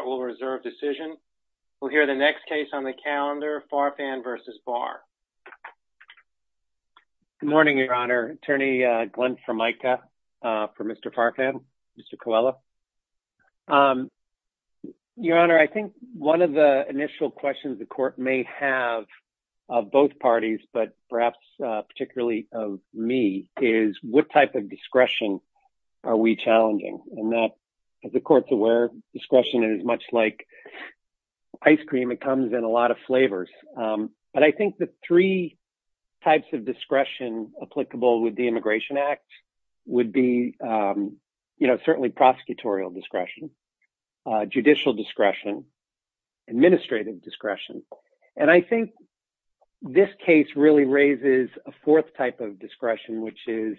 Good morning, Your Honor. Attorney Glenn Formica for Mr. Farfan, Mr. Coelho. Your Honor, I think one of the initial questions the Court may have of both parties, but perhaps particularly of me, is what type of discretion are we challenging? And that, as the Court's aware, discretion is much like ice cream, it comes in a lot of flavors. But I think the three types of discretion applicable with the Immigration Act would be, you know, certainly prosecutorial discretion, judicial discretion, administrative discretion. And I think this case really raises a fourth type of discretion, which is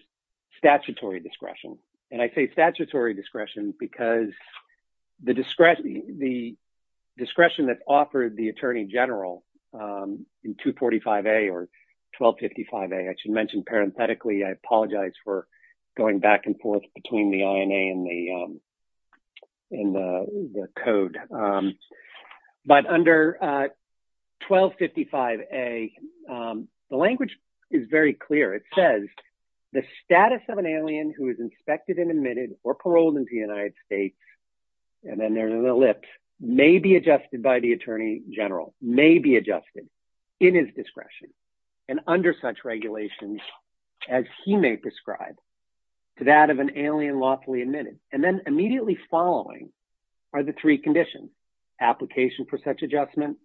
statutory discretion. And I say statutory discretion because the discretion that's offered the Attorney General in 245A or 1255A, I should mention parenthetically, I apologize for going back and forth between the INA and the Code. But under 1255A, the language is very clear, it says, the status of an alien who is inspected and admitted or paroled into the United States, and then there's an ellipse, may be adjusted by the Attorney General, may be adjusted in his discretion and under such regulations as he may prescribe to that of an alien lawfully admitted. And then immediately following are the three conditions, application for such adjustment,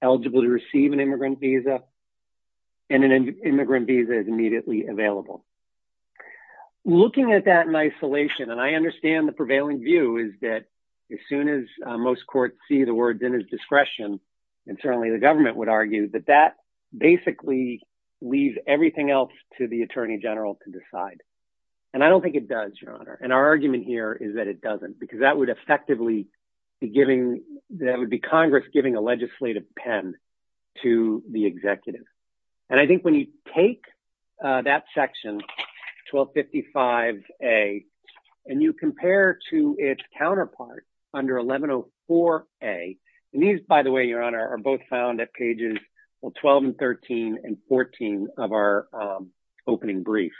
eligible to receive an immigrant visa, and an immigrant visa is immediately available. Looking at that in isolation, and I understand the prevailing view is that as soon as most courts see the words in his discretion, and certainly the government would argue that that basically leaves everything else to the Attorney General to decide. And I don't think it does, Your Honor. And our argument here is that it doesn't, because that would effectively be giving, that would be Congress giving a legislative pen to the executive. And I think when you take that section, 1255A, and you compare to its counterpart under 1104A, and these, by the way, Your Honor, are both found at pages, well, 12 and 13 and 14 of our opening brief.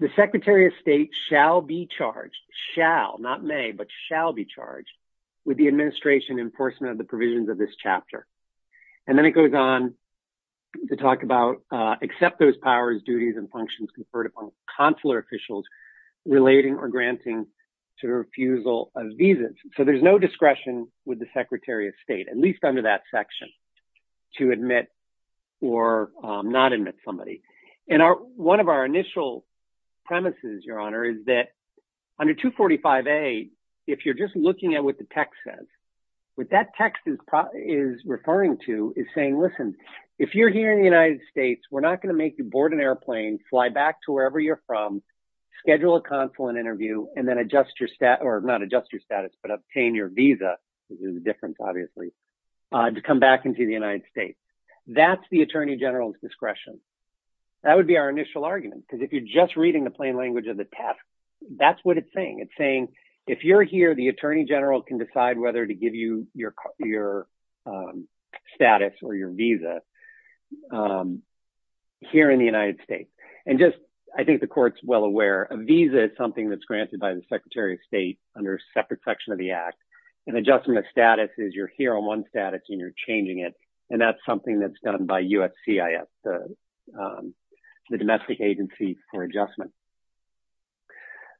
The Secretary of State shall be charged, shall, not may, but shall be charged with the administration enforcement of the provisions of this chapter. And then it goes on to talk about, accept those powers, duties, and functions conferred upon consular officials relating or granting to refusal of visas. So there's no discretion with the Secretary of State, at least under that section, to admit or not admit somebody. And one of our initial premises, Your Honor, is that under 245A, if you're just looking at what the text says, what that text is referring to is saying, listen, if you're here in the United States, we're not going to make you board an airplane, fly back to wherever you're from, schedule a consulate interview, and then adjust your, or not adjust your status, but obtain your visa, which is a difference, obviously, to come back into the United States. That's the Attorney General's discretion. That would be our initial argument. Because if you're just reading the plain language of the text, that's what it's saying. It's saying, if you're here, the Attorney General can decide whether to give you your status or your visa here in the United States. And just, I think the Court's well aware, a visa is something that's granted by the Secretary of State under a separate section of the Act. And adjusting the status is you're here on one status and you're changing it. And that's something that's done by USCIS, the Domestic Agency for Adjustment.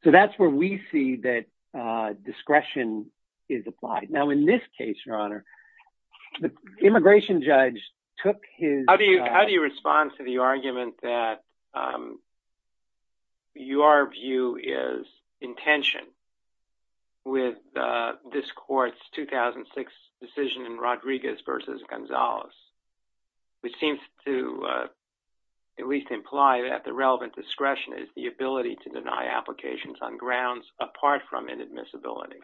So that's where we see that discretion is applied. Now, in this case, Your Honor, the immigration judge took his- How do you, how do you respond to the argument that your view is in tension with this Court's 2006 decision in Rodriguez versus Gonzalez, which seems to at least imply that the relevant discretion is the ability to deny applications on grounds apart from inadmissibility?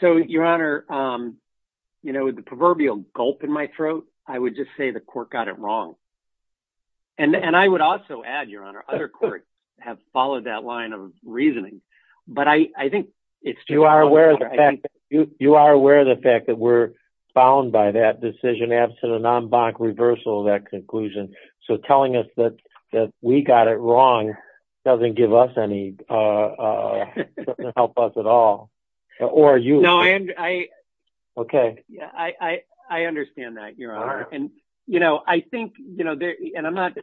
So, Your Honor, you know, the proverbial gulp in my throat, I would just say the Court got it wrong. And I would also add, Your Honor, other courts have followed that line of reasoning. But I think it's- You are aware of the fact that you are aware of the fact that we're bound by that decision absent a non-bonk reversal of that conclusion. So telling us that we got it wrong doesn't give us any, doesn't help us at all. No, I understand that, Your Honor. And, you know, I think, you know, and I'm not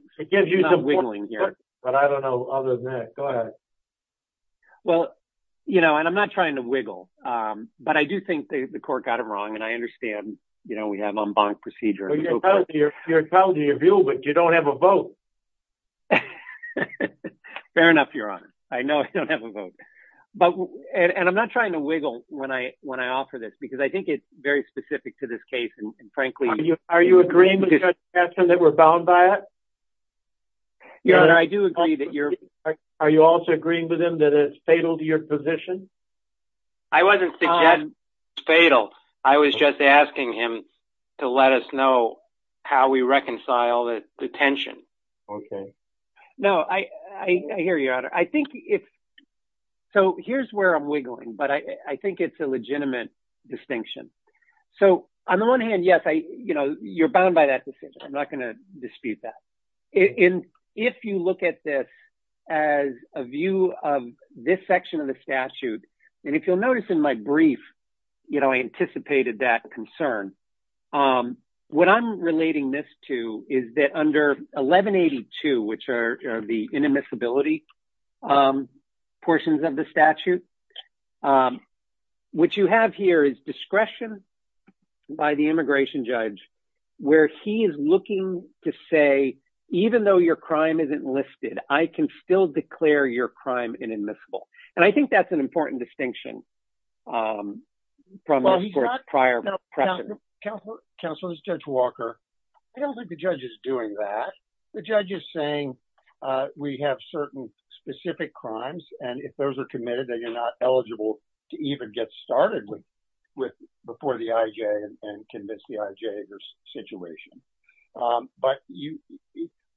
wiggling here. But I don't know other than that. Go ahead. Well, you know, and I'm not trying to wiggle. But I do think the Court got it wrong. And I understand, you know, we have a non-bonk procedure. You're proud of your view, but you don't have a vote. Fair enough, Your Honor. I know I don't have a vote. But, and I'm not trying to wiggle when I offer this, because I think it's very specific to this case. And frankly- Are you agreeing with Judge Gadsden that we're bound by it? Your Honor, I do agree that you're- Are you also agreeing with him that it's fatal to your position? I wasn't suggesting it's fatal. I was just asking him to let us know how we reconcile the tension. Okay. No, I hear you, Your Honor. I think if- So here's where I'm wiggling. But I think it's a legitimate distinction. So on the one hand, yes, you know, you're bound by that decision. I'm not going to dispute that. And if you look at this as a view of this section of the statute, and if you'll notice in my brief, you know, I anticipated that concern. What I'm relating this to is that under 1182, which are the inadmissibility portions of the statute, what you have here is discretion by the immigration judge, where he is looking to say, even though your crime isn't listed, I can still declare your crime inadmissible. And I think that's an important distinction from prior precedent. Counselor, this is Judge Walker. I don't think the judge is doing that. The judge is saying we have certain specific crimes. And if those are committed, then you're not eligible to even get started with before the IJ and convince the IJ of your situation. But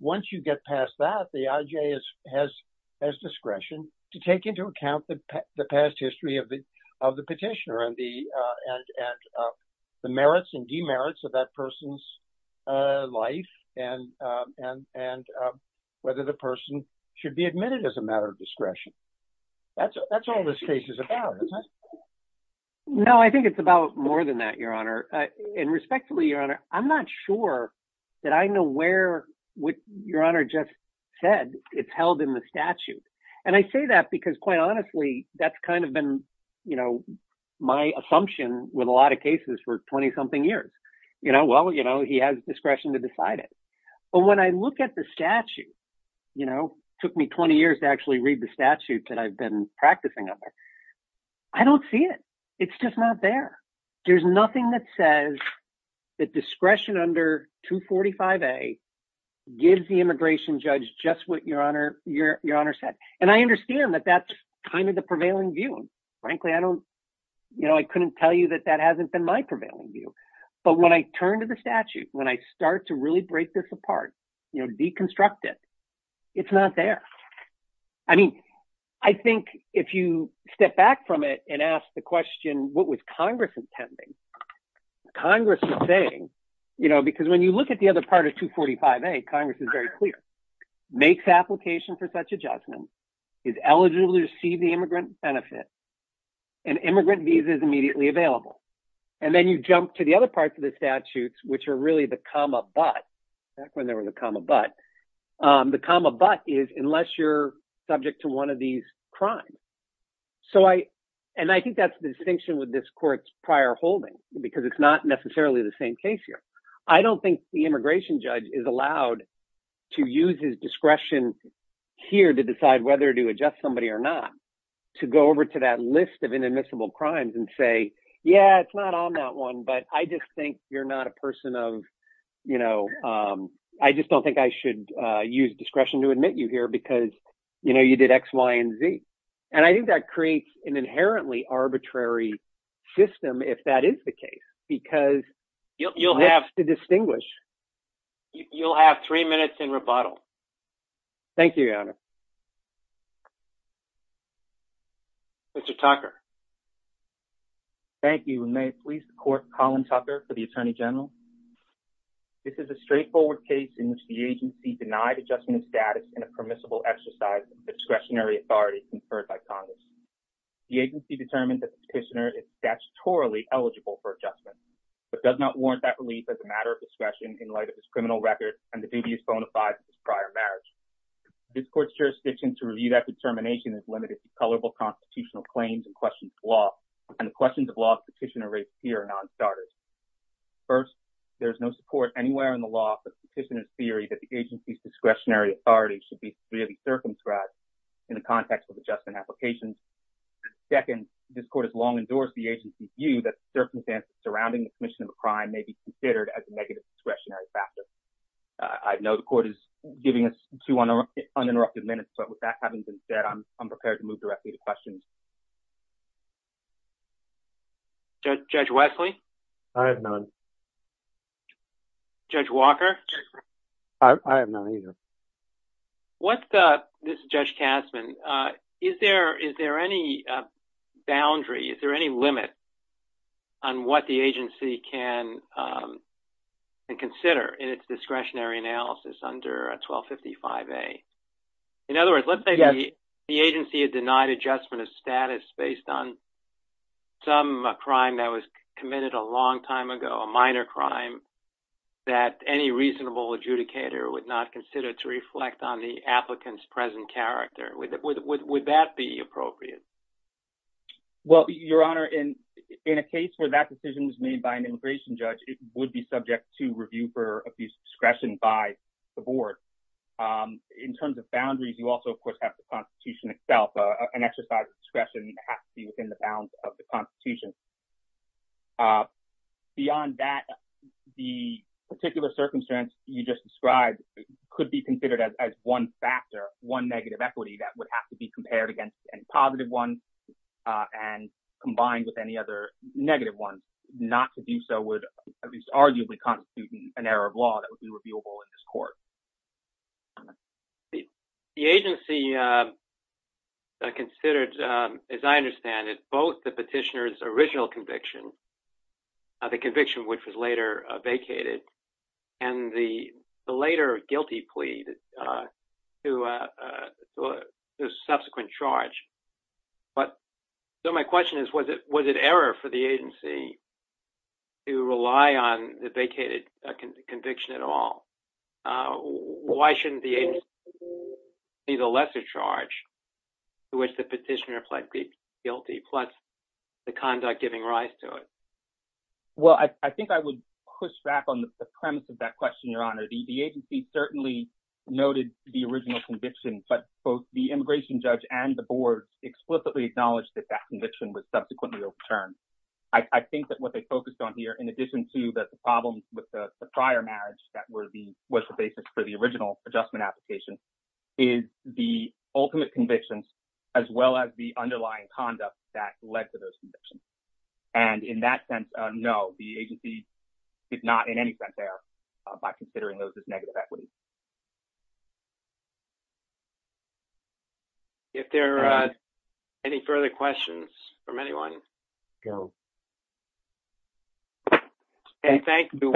once you get past that, the IJ has discretion to take into account the past history of the petitioner and the merits and demerits of that person's life and whether the person should be admitted as a matter of discretion. That's all this case is about. No, I think it's about more than that, Your Honor. And respectfully, Your Honor, I'm not sure that I know where what Your Honor just said, it's held in the statute. And I say that because quite honestly, that's kind of been, you know, my assumption with a lot of cases for 20 something years. You know, well, you know, he has discretion to decide it. But when I look at the statute, you know, took me 20 years to actually read the statute that I've been practicing under. I don't see it. It's just not there. There's nothing that says that discretion under 245A gives the immigration judge just what Your Honor said. And I understand that that's kind of the prevailing view. Frankly, I don't, you know, I couldn't tell you that that hasn't been my prevailing view. But when I turn to the statute, when I start to really break this apart, you know, deconstruct it, it's not there. I mean, I think if you step back from it and ask the question, what was Congress intending? Congress was saying, you know, because when you look at the other part of 245A, Congress is very clear, makes application for such a judgment, is eligible to receive the immigrant benefit, and immigrant visa is immediately available. And then you jump to the other parts of the statutes, which are really the comma but, back when there was a comma but, the comma but is unless you're subject to one of these crimes. So I, and I think that's the distinction with this court's prior holding, because it's not necessarily the same case here. I don't think the immigration judge is allowed to use his discretion here to decide whether to adjust somebody or not, to go over to that list of inadmissible crimes and say, yeah, it's not on that one. But I just think you're not a person of, you know, I just don't think I should use discretion to admit you here because, you know, you did X, Y, and Z. And I think that creates an inherently arbitrary system if that is the case, because you'll have to distinguish. You'll have three minutes in rebuttal. Thank you, Your Honor. Mr. Tucker. Thank you. And may it please the Court, Colin Tucker for the Attorney General. This is a straightforward case in which the agency denied adjustment of status in a permissible exercise of discretionary authority conferred by Congress. The agency determined that the petitioner is statutorily eligible for adjustment, but does not warrant that relief as a matter of discretion in light of his criminal record and the dubious bona fides of his prior marriage. This court's jurisdiction to review that determination is limited to colorable constitutional claims and questions of law, and the questions of law the petitioner raised here are non-starters. First, there is no support anywhere in the law for the petitioner's theory that the agency's discretionary authority should be freely circumscribed in the context of adjustment applications. Second, this court has long endorsed the agency's view that the circumstances surrounding the commission of a crime may be considered as a negative discretionary factor. I know the court is giving us two uninterrupted minutes, but with that having been said, I'm prepared to move directly to questions. Judge Wesley? I have none. Judge Walker? I have none either. This is Judge Kasman. Is there any boundary, is there any limit on what the agency can consider in its discretionary analysis under 1255A? In other words, let's say the agency had denied adjustment of status based on some crime that was committed a long time ago, a minor crime, that any reasonable adjudicator would not consider to reflect on the applicant's present character. Would that be appropriate? Well, Your Honor, in a case where that decision was made by an immigration judge, it would be subject to review for abuse of discretion by the board. In terms of boundaries, you also, of course, have the Constitution itself. An exercise of discretion has to be within the bounds of the Constitution. Beyond that, the particular circumstance you just described could be considered as one factor, one negative equity that would have to be compared against any positive one and combined with any other negative one. Not to do so would at least arguably constitute an error of law that would be reviewable in this court. The agency considered, as I understand it, both the petitioner's original conviction, the conviction which was later vacated, and the later guilty plea to subsequent charge. So my question is, was it error for the agency to rely on the vacated conviction at all? Why shouldn't the agency see the lesser charge to which the petitioner pled guilty, plus the conduct giving rise to it? Well, I think I would push back on the premise of that question, Your Honor. The agency certainly noted the original conviction, but both the immigration judge and the board explicitly acknowledged that that conviction was subsequently overturned. I think that what they focused on here, in addition to the problems with the prior marriage that was the basis for the original adjustment application, is the ultimate convictions as well as the underlying conduct that led to those convictions. And in that sense, no, the agency did not in any sense err by considering those as negative equities. If there are any further questions from anyone? And thank you.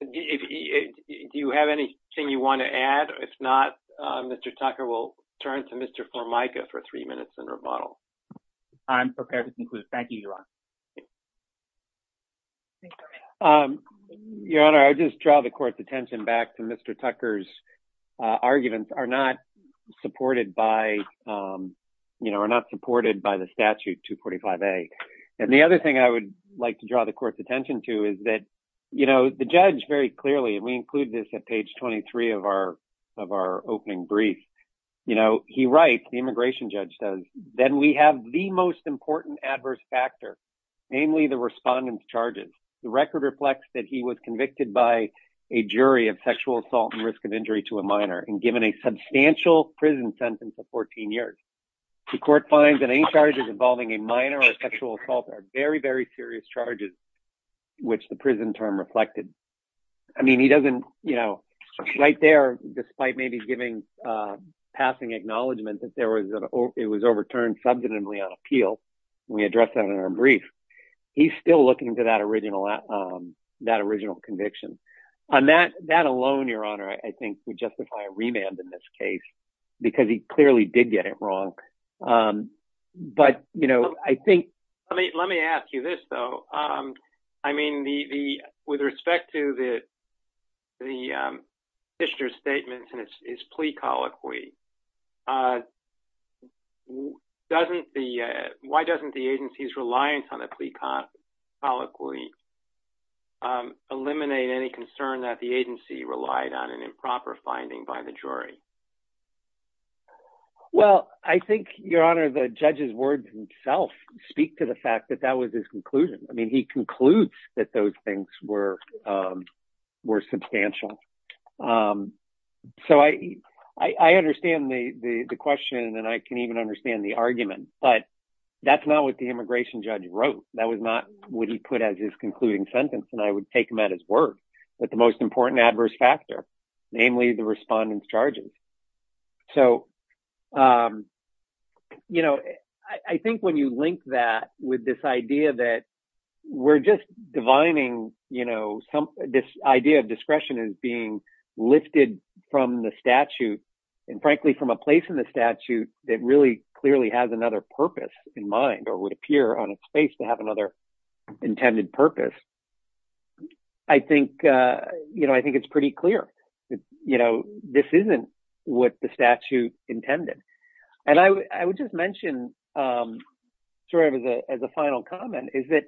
Do you have anything you want to add? If not, Mr. Tucker will turn to Mr. Formica for three minutes in rebuttal. I'm prepared to conclude. Thank you, Your Honor. Your Honor, I just draw the court's attention back to Mr. Tucker's arguments are not supported by the statute 245A. And the other thing I would like to draw the court's attention to is that the judge very clearly, and we include this at page 23 of our opening brief, he writes, the immigration judge does, then we have the most important adverse factor, namely the respondent's charges. The record reflects that he was convicted by a jury of sexual assault and risk injury to a minor and given a substantial prison sentence of 14 years. The court finds that any charges involving a minor or sexual assault are very, very serious charges, which the prison term reflected. I mean, he doesn't, you know, right there, despite maybe giving passing acknowledgement that it was overturned substantively on appeal. We addressed that in our brief. He's still looking to that original conviction. And that alone, Your Honor, I think would justify a remand in this case because he clearly did get it wrong. But, you know, I think... Let me ask you this, though. I mean, with respect to the Fisher's statements and his plea colloquy, why doesn't the agency's reliance on the plea colloquy eliminate any concern that the agency relied on an improper finding by the jury? Well, I think, Your Honor, the judge's words himself speak to the fact that that was his argument. So I understand the question and I can even understand the argument. But that's not what the immigration judge wrote. That was not what he put as his concluding sentence. And I would take him at his word. But the most important adverse factor, namely the respondent's charges. So, you know, I think when you link that with this idea that we're just divining, you know, this idea of discretion is being lifted from the statute and, frankly, from a place in the statute that really clearly has another purpose in mind or would appear on its face to have another intended purpose. I think, you know, I think it's pretty clear, you know, this isn't what the statute intended. And I would just mention, sort of as a final comment, is that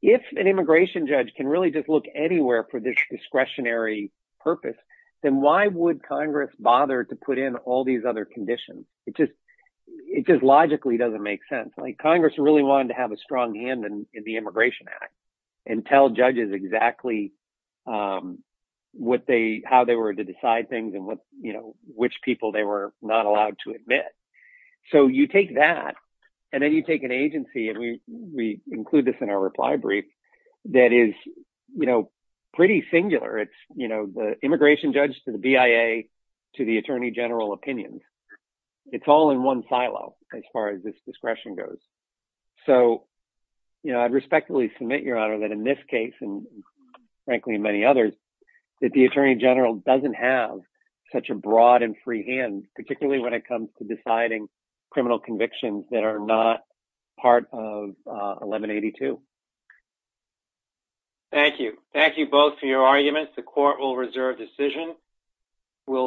if an immigration judge can really just look anywhere for this discretionary purpose, then why would Congress bother to put in all these other conditions? It just logically doesn't make sense. Like, Congress really wanted to have a strong hand in the Immigration Act and tell judges exactly what they, how they were to decide things and what, you know, which people they were not allowed to admit. So you take that and then you take an agency, and we include this in our reply brief that is, you know, pretty singular. It's, you know, the immigration judge to the BIA to the attorney general opinions. It's all in one silo as far as this discretion goes. So, you know, I'd respectfully submit, Your Honor, that in this case and, frankly, in many others, that the attorney general doesn't have such a broad and free hand, particularly when it comes to deciding criminal convictions that are not part of 1182. Thank you. Thank you both for your arguments. The court will reserve decision. We'll